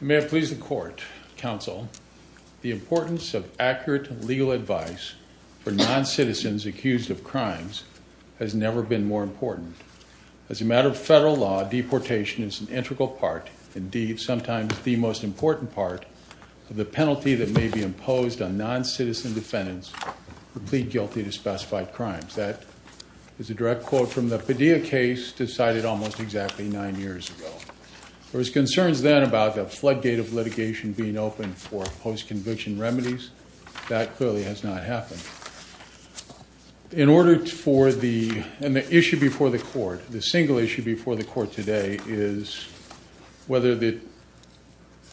May it please the Court, Counsel, the importance of accurate legal advice for non-citizens accused of crimes has never been more important. As a matter of federal law, deportation is an integral part, indeed sometimes the most important part, of the penalty that may be imposed on non-citizen defendants who plead guilty to specified crimes. That is a direct quote from the Padilla case decided almost exactly nine years ago. There was concerns then about the floodgate of litigation being open for post-conviction remedies. That clearly has not happened. In order for the, and the issue before the Court, the single issue before the Court today is whether the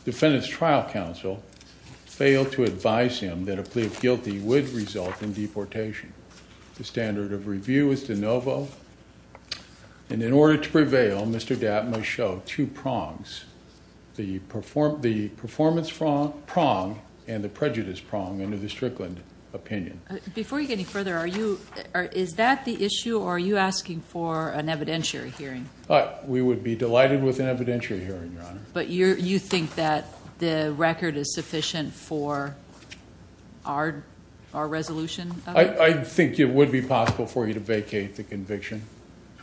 Defendant's Trial Counsel failed to advise him that a And in order to prevail, Mr. Dat must show two prongs, the performance prong and the prejudice prong under the Strickland opinion. Before you get any further, is that the issue or are you asking for an evidentiary hearing? We would be delighted with an evidentiary hearing, Your Honor. But you think that the record is sufficient for our resolution? I think it would be possible for you to vacate the conviction,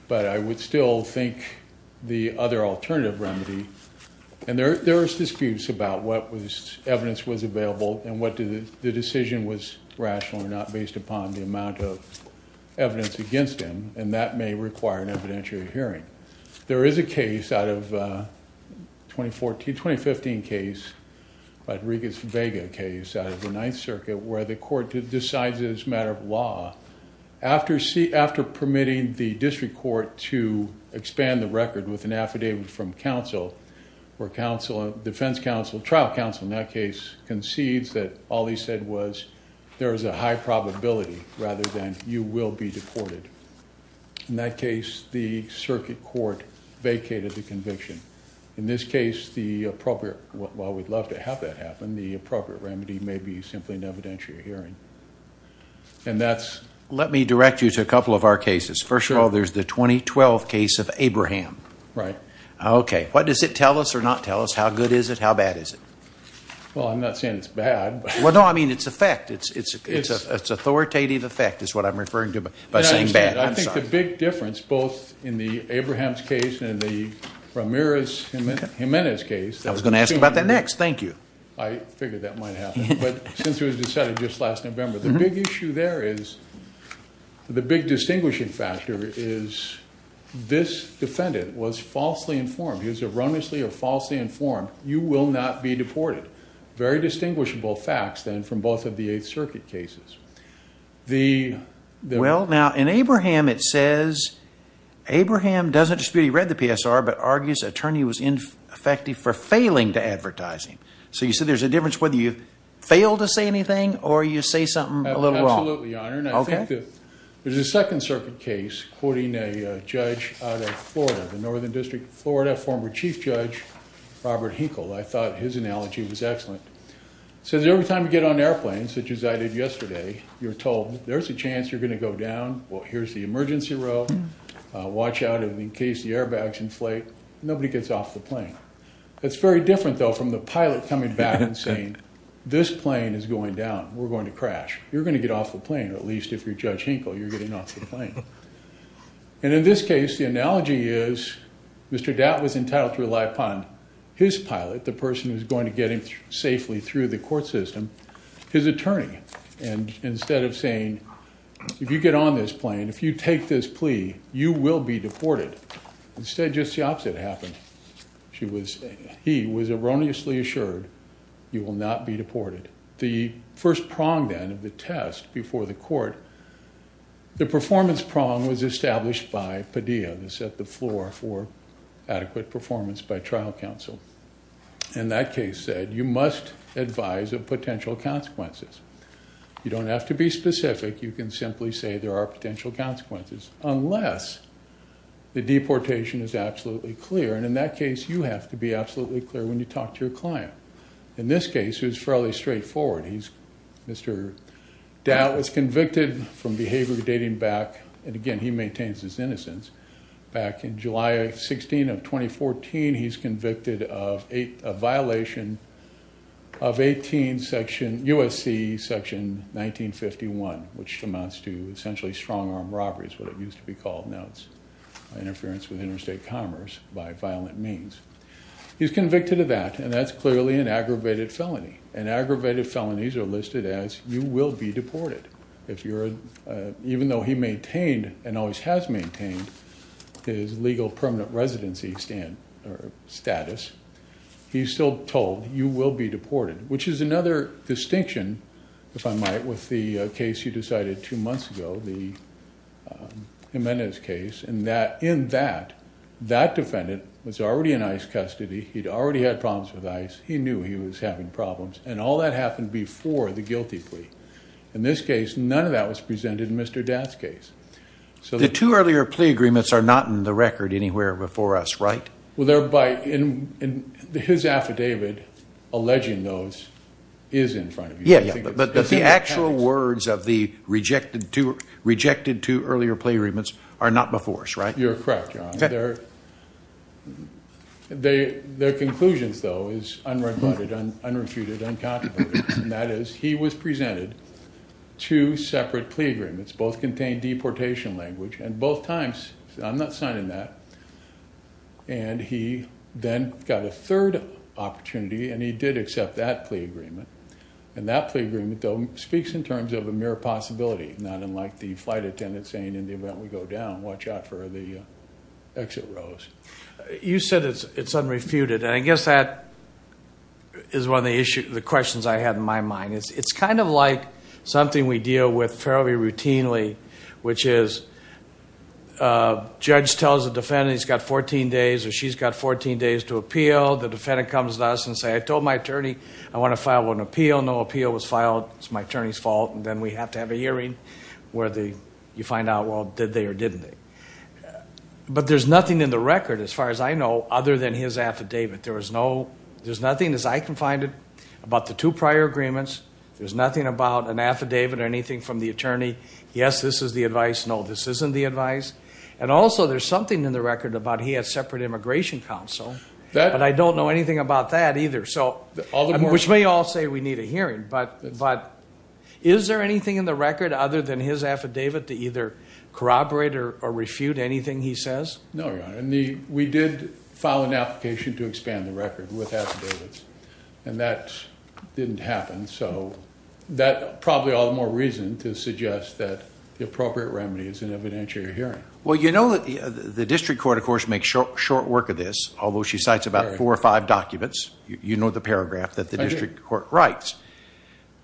but I would still think the other alternative remedy, and there are disputes about what evidence was available and what the decision was rational or not based upon the amount of evidence against him, and that may require an evidentiary hearing. There is a case out of 2014, 2015 case, Rodriguez-Vega case out of the Ninth Circuit, where the Court decides it is a matter of law. After permitting the District Court to expand the record with an affidavit from counsel, where counsel, defense counsel, trial counsel in that case concedes that all he said was there is a high probability rather than you will be deported. In that case, the Circuit Court vacated the conviction. In this case, the appropriate, while we'd love to have that happen, the appropriate remedy may be simply an evidentiary hearing. Let me direct you to a couple of our cases. First of all, there's the 2012 case of Abraham. Right. Okay. What does it tell us or not tell us? How good is it? How bad is it? Well, I'm not saying it's bad. Well, no, I mean it's effect. It's authoritative effect is what I'm referring to by saying bad. I think the big difference both in the Abrahams case and the Ramirez-Jimenez case I was going to ask about that next. Thank you. I figured that might happen. But since it was decided just last November, the big issue there is, the big distinguishing factor is this defendant was falsely informed. He was erroneously or falsely informed. You will not be deported. Very distinguishable facts then from both of the Eighth Circuit cases. The Well, now in Abraham it says, Abraham doesn't dispute he read the PSR but argues attorney was ineffective for failing to advertise him. So you said there's a difference whether you fail to say anything or you say something a little wrong. Absolutely, Your Honor. Okay. And I think that there's a Second Circuit case quoting a judge out of Florida, the Northern District of Florida, former Chief Judge Robert Hinkle. I thought his analogy was excellent. It says every time you get on airplanes, such as I did yesterday, you're told there's a chance you're going to go down. Well, here's the emergency row. Watch out in case the airbags inflate. Nobody gets off the plane. That's very different, though, from the pilot coming back and saying this plane is going down. We're going to crash. You're going to get off the plane, at least if you're Judge Hinkle, you're getting off the plane. And in this case, the analogy is Mr. Datt was entitled to rely upon his pilot, the person who's going to get him safely through the court system, his attorney. And instead of saying, if you happen, she was, he was erroneously assured you will not be deported. The first prong then of the test before the court, the performance prong was established by Padilla to set the floor for adequate performance by trial counsel. And that case said you must advise of potential consequences. You don't have to be specific. You can simply say there are potential consequences unless the deportation is absolutely clear. And in that case, you have to be absolutely clear when you talk to your client. In this case, it was fairly straightforward. He's Mr. Datt was convicted from behavior dating back. And again, he maintains his innocence back in July 16 of 2014. He's convicted of a violation of 18 section USC, section 1951, which amounts to essentially strong arm robberies, what it used to be called. Now it's interference with interstate commerce by violent means. He's convicted of that, and that's clearly an aggravated felony. And aggravated felonies are listed as you will be deported. If you're, even though he maintained and always has maintained his legal permanent residency status, he's still told you will be deported, which is another distinction, if I might, with the case you decided two months ago, the Jimenez case. And that, in that, that defendant was already in ICE custody. He'd already had problems with ICE. He knew he was having problems. And all that happened before the guilty plea. In this case, none of that was presented in Mr. Datt's case. So the two earlier plea agreements are not in the record anywhere before us, right? Well, they're by, in his affidavit, alleging those is in front of you. Yeah, yeah. But the actual words of the rejected two earlier plea agreements are not before us, right? You're correct, John. Their conclusions, though, is unrebutted, unrefuted, uncountable. And that is he was presented two separate plea agreements, both contained deportation language. And both times, I'm not signing that. And he then got a third opportunity, and he did accept that plea agreement. And that plea agreement, though, speaks in terms of a mere possibility, not unlike the flight attendant saying, in the event we go down, watch out for the exit rows. You said it's unrefuted. And I guess that is one of the issues, the questions I had in my mind. It's kind of like something we deal with fairly routinely, which is a judge tells the defendant he's got 14 days, or she's got 14 days to appeal. The defendant comes to us and say, I told my attorney, I want to file an appeal. No appeal was filed. It's my attorney's fault. And then we have to have a hearing where you find out, well, did they or didn't they? But there's nothing in the record, as far as I know, other than his affidavit. There's nothing, as I can find it, about the two prior agreements. There's nothing about an affidavit or anything from the attorney. Yes, this is the advice. No, this isn't the advice. And also, there's something in the record about he has separate immigration counsel. But I don't know anything about that either. Which may all say we need a hearing. But is there anything in the record other than his affidavit to either corroborate or refute anything he says? No, Your Honor. We did file an application to expand the record with affidavits. And that didn't happen. So that probably all the more reason to suggest that the appropriate remedy is an evidentiary hearing. Well, you know that the district court, of course, makes short work of this, although she cites about four or five documents. You know the paragraph that the district court writes.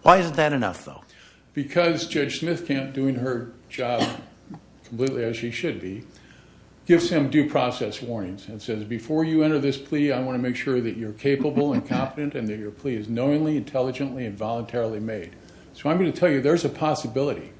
Why isn't that enough, though? Because Judge Smithcamp, doing her job completely as she should be, gives him due process warnings and says, before you enter this plea, I want to make sure that you're capable and confident and that your plea is knowingly, intelligently, and voluntarily made. So I'm going to tell you there's a possibility.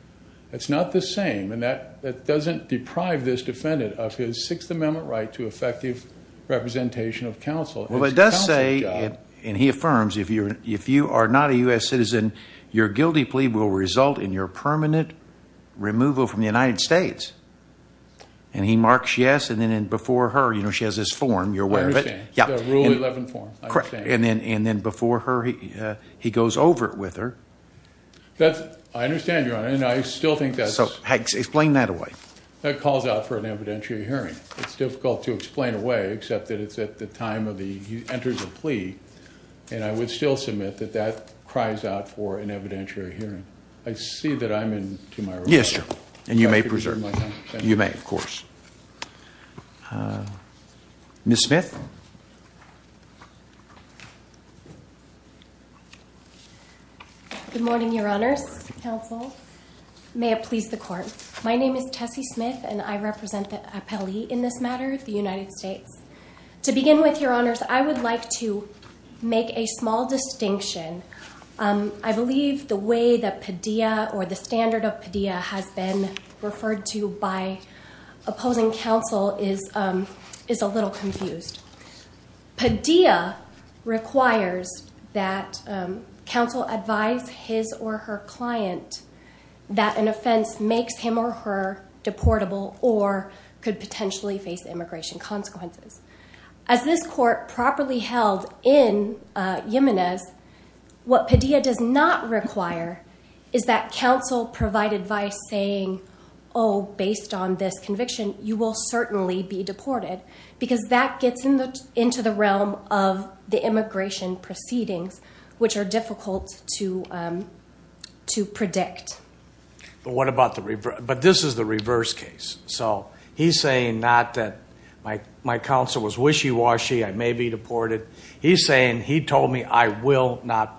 It's not the same. And that doesn't deprive this defendant of his Sixth Amendment right to effective representation of counsel. Well, it does say, and he affirms, if you are not a U.S. citizen, your guilty plea will result in your permanent removal from the United States. And he marks yes. And then before her, you know, she has this form. You're aware of it. Yeah. Rule 11 form. Correct. And then before her, he goes over it with her. That's, I understand, Your Honor, and I still think that's... So explain that away. That calls out for an evidentiary hearing. It's difficult to explain away, except that it's at the time of the, he enters a plea, and I would still submit that that cries out for an evidentiary hearing. I see that I'm in to my role. Yes, sir. And you may preserve. You may, of course. Ms. Smith. Good morning, Your Honors, counsel. May it please the court. My name is Tessie Smith, and I represent the appellee in this matter, the United States. To begin with, Your Honors, I would like to make a small distinction. I believe the way that Padilla or the standard of Padilla has been referred to by opposing counsel is a little confused. Padilla requires that counsel advise his or her client that an offense makes him or her deportable or could potentially face immigration consequences. As this court properly held in Yemenez, what Padilla does not require is that counsel provide advice saying, oh, based on this conviction, you will certainly be deported because that gets into the realm of the immigration proceedings, which are difficult to predict. But this is the reverse case. So he's saying not that my counsel was wishy-washy, I may be not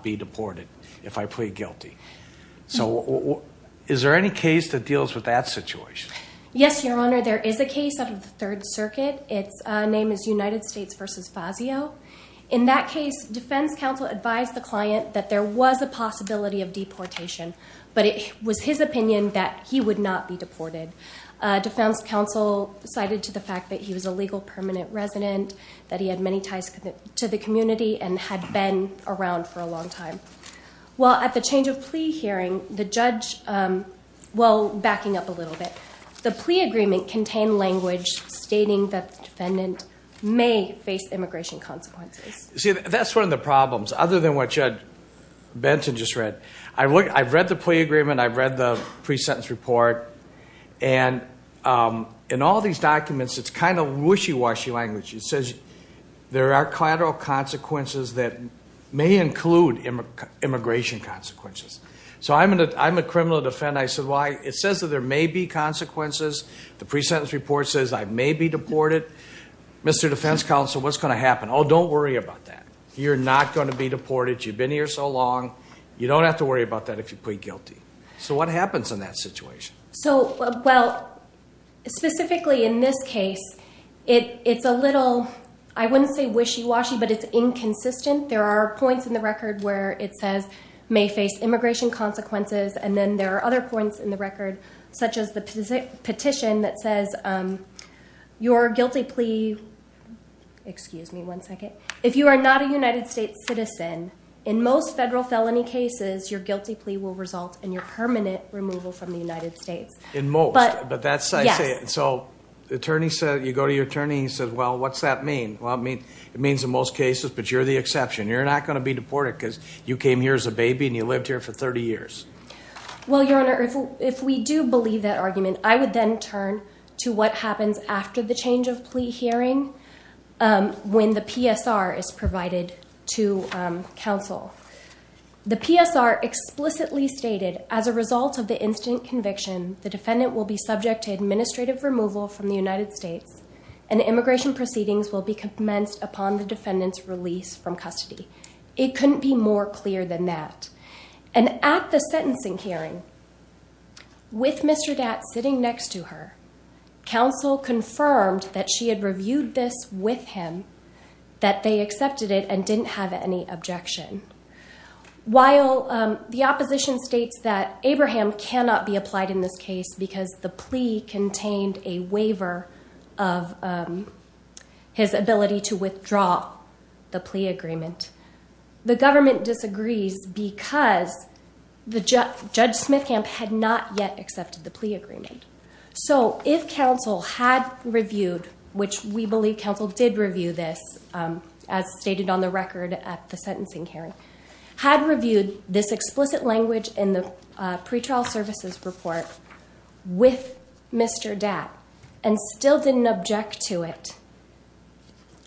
be deported if I plead guilty. So is there any case that deals with that situation? Yes, Your Honor. There is a case out of the Third Circuit. Its name is United States v. Fazio. In that case, defense counsel advised the client that there was a possibility of deportation, but it was his opinion that he would not be deported. Defense counsel cited to the fact that he was a legal permanent resident, that he had many ties to the community and had been around for a long time. Well, at the change of plea hearing, the judge, well, backing up a little bit, the plea agreement contained language stating that the defendant may face immigration consequences. See, that's one of the problems, other than what Judge Benson just read. I've read the plea agreement. I've read the pre-sentence report. And in all these documents, it's kind of wishy-washy It says there are collateral consequences that may include immigration consequences. So I'm a criminal defendant. I said, well, it says that there may be consequences. The pre-sentence report says I may be deported. Mr. Defense counsel, what's going to happen? Oh, don't worry about that. You're not going to be deported. You've been here so long. You don't have to worry about that if you plead guilty. So what happens in that situation? So, well, specifically in this case, it's a little, I wouldn't say wishy-washy, but it's inconsistent. There are points in the record where it says may face immigration consequences. And then there are other points in the record, such as the petition that says your guilty plea, excuse me one second. If you are not a United States citizen, in most federal felony cases, your guilty plea will result in your permanent removal from the United States. But that's it. So the attorney said, you go to your attorney and he says, well, what's that mean? Well, I mean, it means in most cases, but you're the exception. You're not going to be deported because you came here as a baby and you lived here for 30 years. Well, your Honor, if we do believe that argument, I would then turn to what happens after the change of plea hearing when the PSR is provided to counsel. The PSR explicitly stated as a result of the incident conviction, the defendant will be subject to administrative removal from the United States and immigration proceedings will be commenced upon the defendant's release from custody. It couldn't be more clear than that. And at the sentencing hearing with Mr. Dat sitting next to her, counsel confirmed that she had reviewed this with him, that they accepted it didn't have any objection. While the opposition states that Abraham cannot be applied in this case because the plea contained a waiver of his ability to withdraw the plea agreement, the government disagrees because Judge Smithcamp had not yet accepted the plea agreement. So if counsel had reviewed, which we believe counsel did review this as stated on the record at the sentencing hearing, had reviewed this explicit language in the pretrial services report with Mr. Dat and still didn't object to it,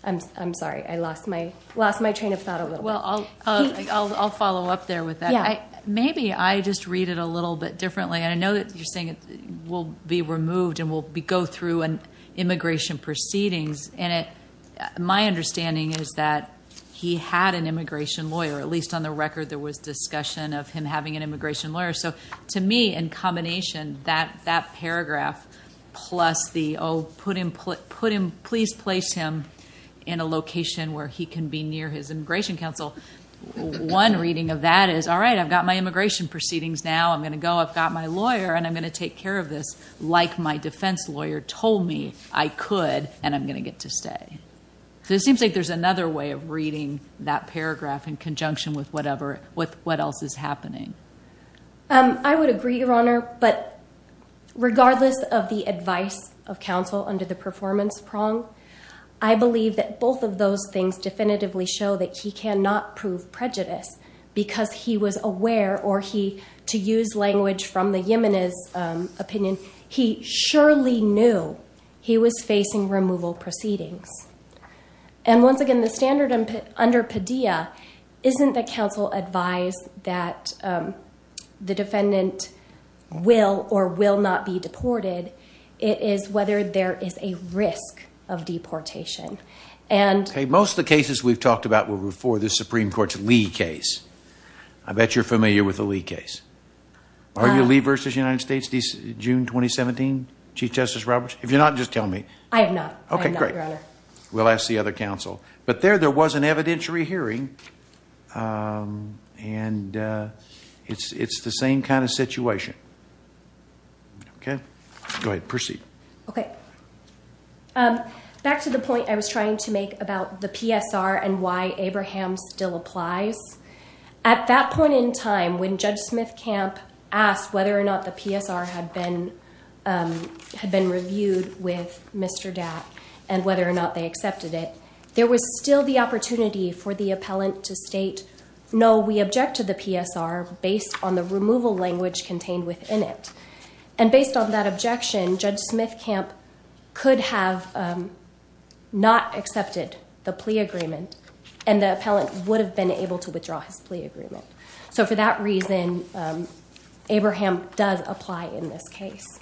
I'm sorry, I lost my train of thought a little bit. Well, I'll follow up there with that. Maybe I just read it a little bit differently. I know you're saying it will be removed and will go through an immigration proceedings. And my understanding is that he had an immigration lawyer, at least on the record there was discussion of him having an immigration lawyer. So to me, in combination, that paragraph plus the, oh, put him, please place him in a location where he can be near his immigration counsel. One reading of that is, all right, I've got my immigration proceedings now. I'm going to go. I've got my lawyer and I'm going to take care of this. Like my defense lawyer told me I could, and I'm going to get to stay. So it seems like there's another way of reading that paragraph in conjunction with whatever, with what else is happening. I would agree, Your Honor. But regardless of the advice of counsel under the performance prong, I believe that both of those things definitively show that he cannot prove prejudice because he was aware or he, to use language from the Yemenis opinion, he surely knew he was facing removal proceedings. And once again, the standard under Padilla isn't that counsel advised that the defendant will or will not be removed. So what's the case that we've talked about before, the Supreme Court's Lee case? I bet you're familiar with the Lee case. Are you Lee versus United States, June 2017, Chief Justice Roberts? If you're not, just tell me. I am not. Okay, great. We'll ask the other counsel. But there, there was an evidentiary hearing and it's the same kind of situation. Okay. Go ahead. Proceed. Okay. Back to the point I was trying to make about the PSR and why Abraham still applies. At that point in time, when Judge Smith-Camp asked whether or not the PSR had been reviewed with Mr. Dat and whether or not they accepted it, there was still the opportunity for the appellant to state, no, we object to the PSR based on the removal language contained within it. And based on that objection, Judge Smith-Camp could have not accepted the plea agreement and the appellant would have been able to withdraw his plea agreement. So for that reason, Abraham does apply in this case.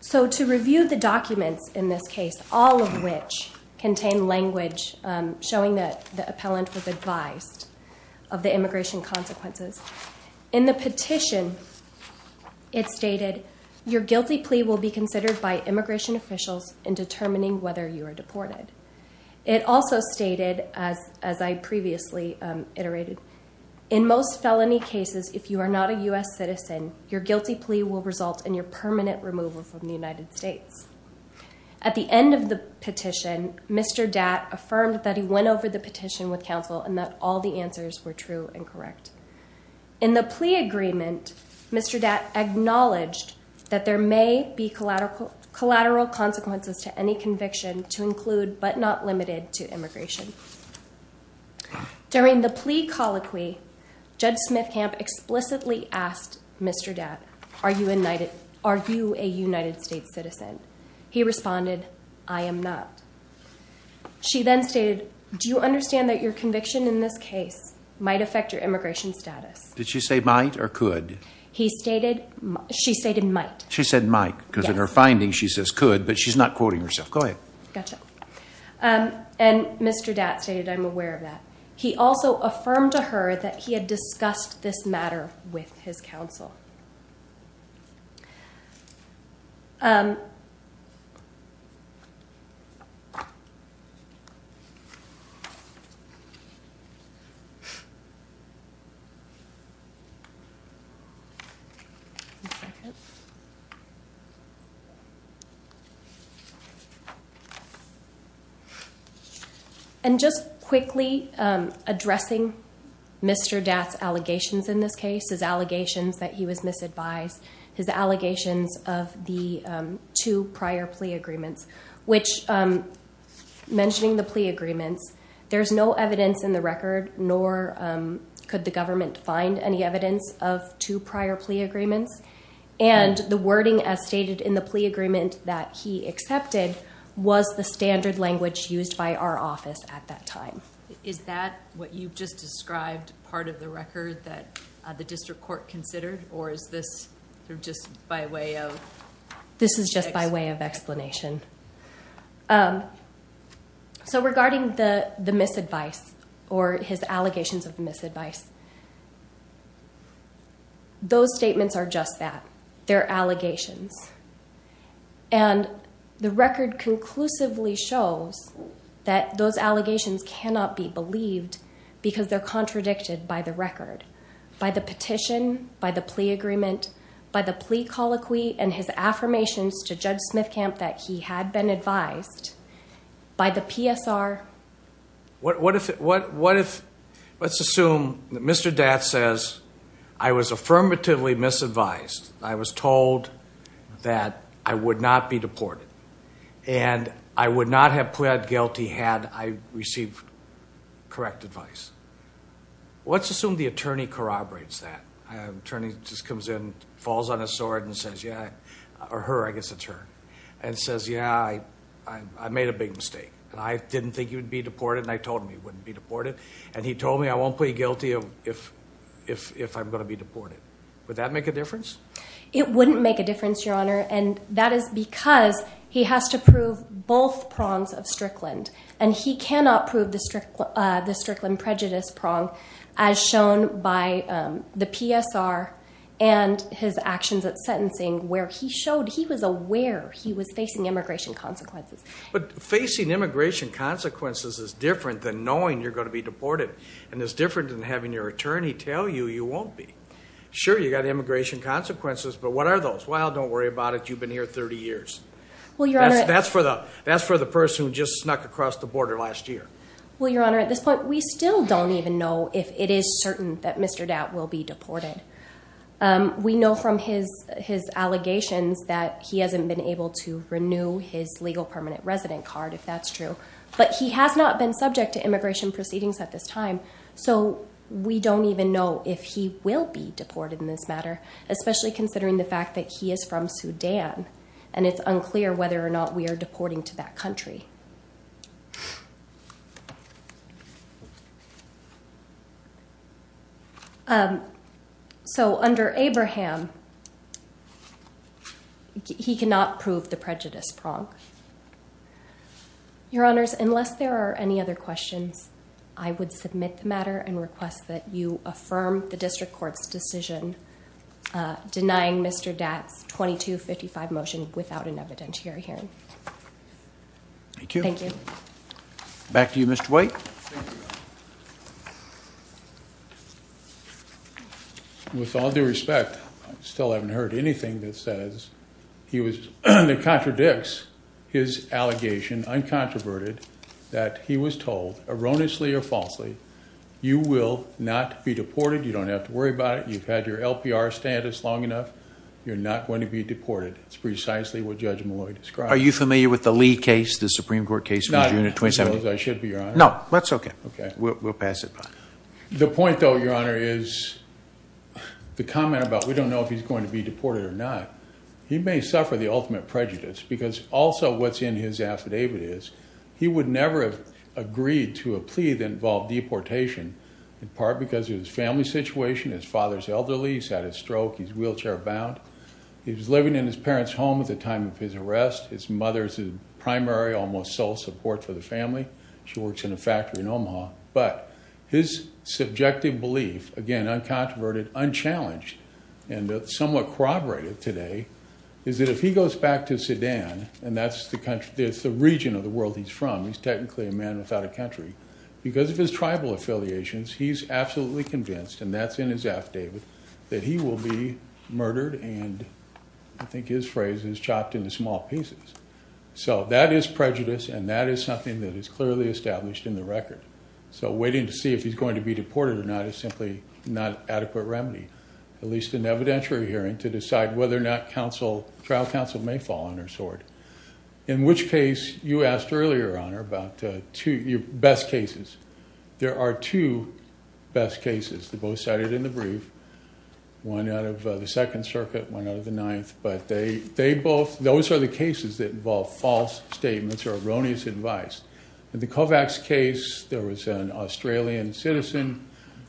So to review the documents in this case, all of which contain language showing that the consequences. In the petition, it stated, your guilty plea will be considered by immigration officials in determining whether you are deported. It also stated, as I previously iterated, in most felony cases, if you are not a U.S. citizen, your guilty plea will result in your permanent removal from the United States. At the end of the petition, Mr. Dat affirmed that he went over the petition with counsel and that all the answers were true and correct. In the plea agreement, Mr. Dat acknowledged that there may be collateral consequences to any conviction to include, but not limited to, immigration. During the plea colloquy, Judge Smith-Camp explicitly asked Mr. Dat, are you a United States citizen? He responded, I am not. She then stated, do you understand that your conviction in this case might affect your immigration status? Did she say might or could? She stated might. She said might, because in her findings she says could, but she's not quoting herself. Go ahead. Gotcha. And Mr. Dat stated, I'm aware of that. He also affirmed to her that he had discussed this matter with his counsel. Um, and just quickly addressing Mr. Dat's allegations in this case, his allegations that he was misadvised, his allegations of the, um, two prior plea agreements, which, um, mentioning the plea agreements, there's no evidence in the record, nor, um, could the government find any evidence of two prior plea agreements. And the wording as stated in the plea agreement that he accepted was the standard language used by our office at that time. Is that what you've just or just by way of? This is just by way of explanation. Um, so regarding the, the misadvice or his allegations of misadvice, those statements are just that, they're allegations. And the record conclusively shows that those allegations cannot be believed because they're contradicted by the record, by the petition, by the plea agreement, by the plea colloquy and his affirmations to Judge Smithcamp that he had been advised by the PSR. What, what if, what, what if, let's assume that Mr. Dat says I was affirmatively misadvised. I was told that I would not be deported and I would not have pled guilty had I received correct advice. Let's assume the attorney corroborates that. Attorney just comes in, falls on his sword and says, yeah, or her, I guess it's her and says, yeah, I, I, I made a big mistake and I didn't think you would be deported. And I told him he wouldn't be deported. And he told me I won't plead guilty if, if, if I'm going to be deported. Would that make a difference? It wouldn't make a difference, Your Honor. And that is because he has to prove both prongs of Strickland and he cannot prove the Strickland prejudice prong as shown by the PSR and his actions at sentencing where he showed he was aware he was facing immigration consequences. But facing immigration consequences is different than knowing you're going to be deported. And it's different than having your attorney tell you, you won't be. Sure, you got immigration consequences, but what are those? Well, don't worry about it. You've been here 30 years. That's for the, that's for the person who just snuck across the border last year. Well, Your Honor, at this point, we still don't even know if it is certain that Mr. Datt will be deported. We know from his, his allegations that he hasn't been able to renew his legal permanent resident card, if that's true, but he has not been subject to immigration proceedings at this time. So we don't even know if he will be deported in this matter, especially considering the fact that he is from Sudan, and it's unclear whether or not we are deporting to that country. So under Abraham, he cannot prove the prejudice prong. Your Honors, unless there are any other questions, I would submit the matter and request that you deny Mr. Datt's 2255 motion without an evidentiary hearing. Thank you. Thank you. Back to you, Mr. White. With all due respect, I still haven't heard anything that says he was, that contradicts his allegation, uncontroverted, that he was told, erroneously or falsely, you will not be deported. You don't have to worry about it. You've had your LPR status long enough. You're not going to be deported. It's precisely what Judge Malloy described. Are you familiar with the Lee case, the Supreme Court case? Not as well as I should be, Your Honor. No, that's okay. We'll pass it by. The point though, Your Honor, is the comment about we don't know if he's going to be deported or not. He may suffer the ultimate prejudice because also what's in his affidavit is he would never have agreed to a plea that involved deportation, in part because of his family situation. His father's elderly. He's had a stroke. He's wheelchair-bound. He was living in his parents' home at the time of his arrest. His mother is his primary, almost sole, support for the family. She works in a factory in Omaha. But his subjective belief, again, uncontroverted, unchallenged, and somewhat corroborated today, is that if he goes back to Sudan, and that's the region of the world he's from, he's technically a man without a country, because of his tribal affiliations, he's absolutely convinced, and that's in his affidavit, that he will be murdered and, I think his phrase is, chopped into small pieces. So that is prejudice, and that is something that is clearly established in the record. So waiting to see if he's going to be deported or not is simply not an adequate remedy, at least in evidentiary hearing, to decide whether or not trial counsel may fall on their sword. In which case, you asked earlier, Honor, about two best cases. There are two best cases. They're both cited in the brief. One out of the Second Circuit, one out of the Ninth. But they both, those are the cases that involve false statements or erroneous advice. In the Kovacs case, there was an Australian citizen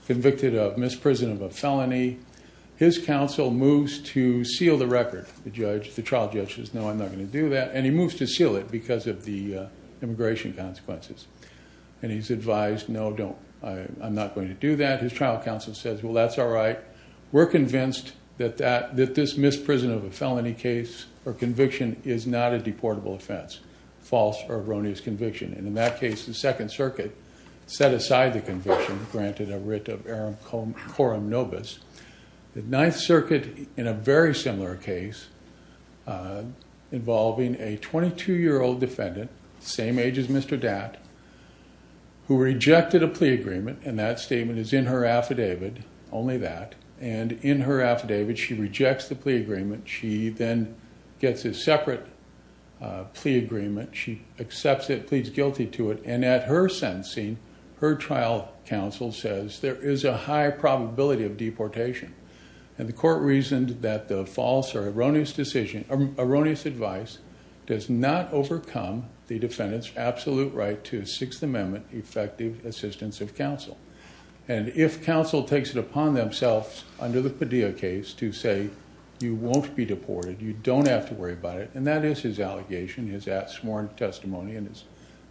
convicted of misprison of a felony. His counsel moves to seal the record. The trial judge says, no, I'm not going to do that. And he moves to seal it because of the immigration consequences. And he's advised, no, I'm not going to do that. His trial counsel says, well, that's all right. We're convinced that this misprison of a felony case or conviction is not a deportable offense, false or erroneous conviction. And in that case, the Second Circuit set aside the conviction, granted a writ of coram nobis. The Ninth Circuit, in a very similar case, involving a 22-year-old defendant, same age as Mr. Dat, who rejected a plea agreement. And that statement is in her affidavit, only that. And in her affidavit, she rejects the plea agreement. She then gets a separate plea agreement. She accepts it, pleads guilty to it. And at her sentencing, her trial counsel says, there is a high probability of deportation. And the court reasoned that the false or erroneous decision, erroneous advice, does not overcome the defendant's absolute right to Sixth Amendment effective assistance of counsel. And if counsel takes it upon themselves under the Padilla case to say, you won't be deported, you don't have to worry about it. And that is his allegation, his sworn testimony in his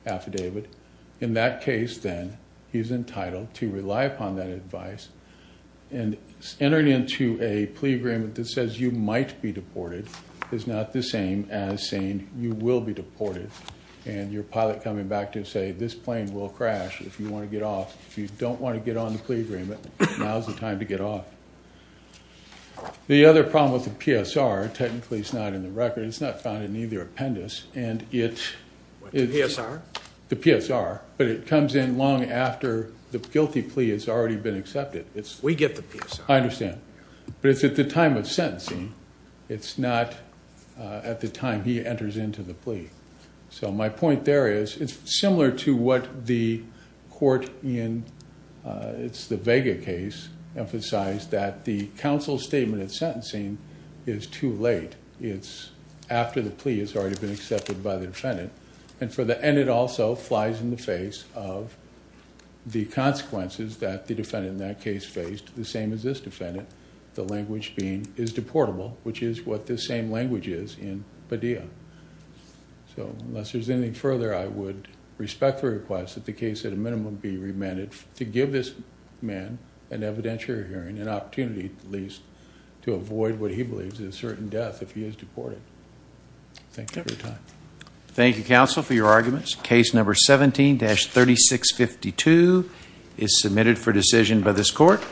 affidavit. In that case, then, he's entitled to rely upon that advice. And entering into a plea agreement that says you might be deported is not the same as saying you will be deported. And your pilot coming back to say, this plane will crash if you want to get off. If you don't want to get on the plea agreement, now's the time to get off. The other problem with the PSR, technically it's not in the record, it's not found in either appendix, and it- What, the PSR? The PSR. But it comes in long after the guilty plea has already been accepted. It's- We get the PSR. I understand. But it's at the time of sentencing. It's not at the time he enters into the plea. So my point there is, it's similar to what the court in, it's the Vega case, emphasized that the counsel statement at sentencing is too late. It's after the plea has already been accepted by the defendant. And for the- And it also flies in the face of the consequences that the defendant in that case faced, the same as this defendant, the language being is deportable, which is what this same language is in Padilla. So unless there's anything further, I would respect the request that the case, at a minimum, be remanded to give this man an evidentiary hearing, an opportunity, at least, to avoid what he believes is a certain death. If he is deported. Thank you for your time. Thank you, counsel, for your arguments. Case number 17-3652 is submitted for decision by this court.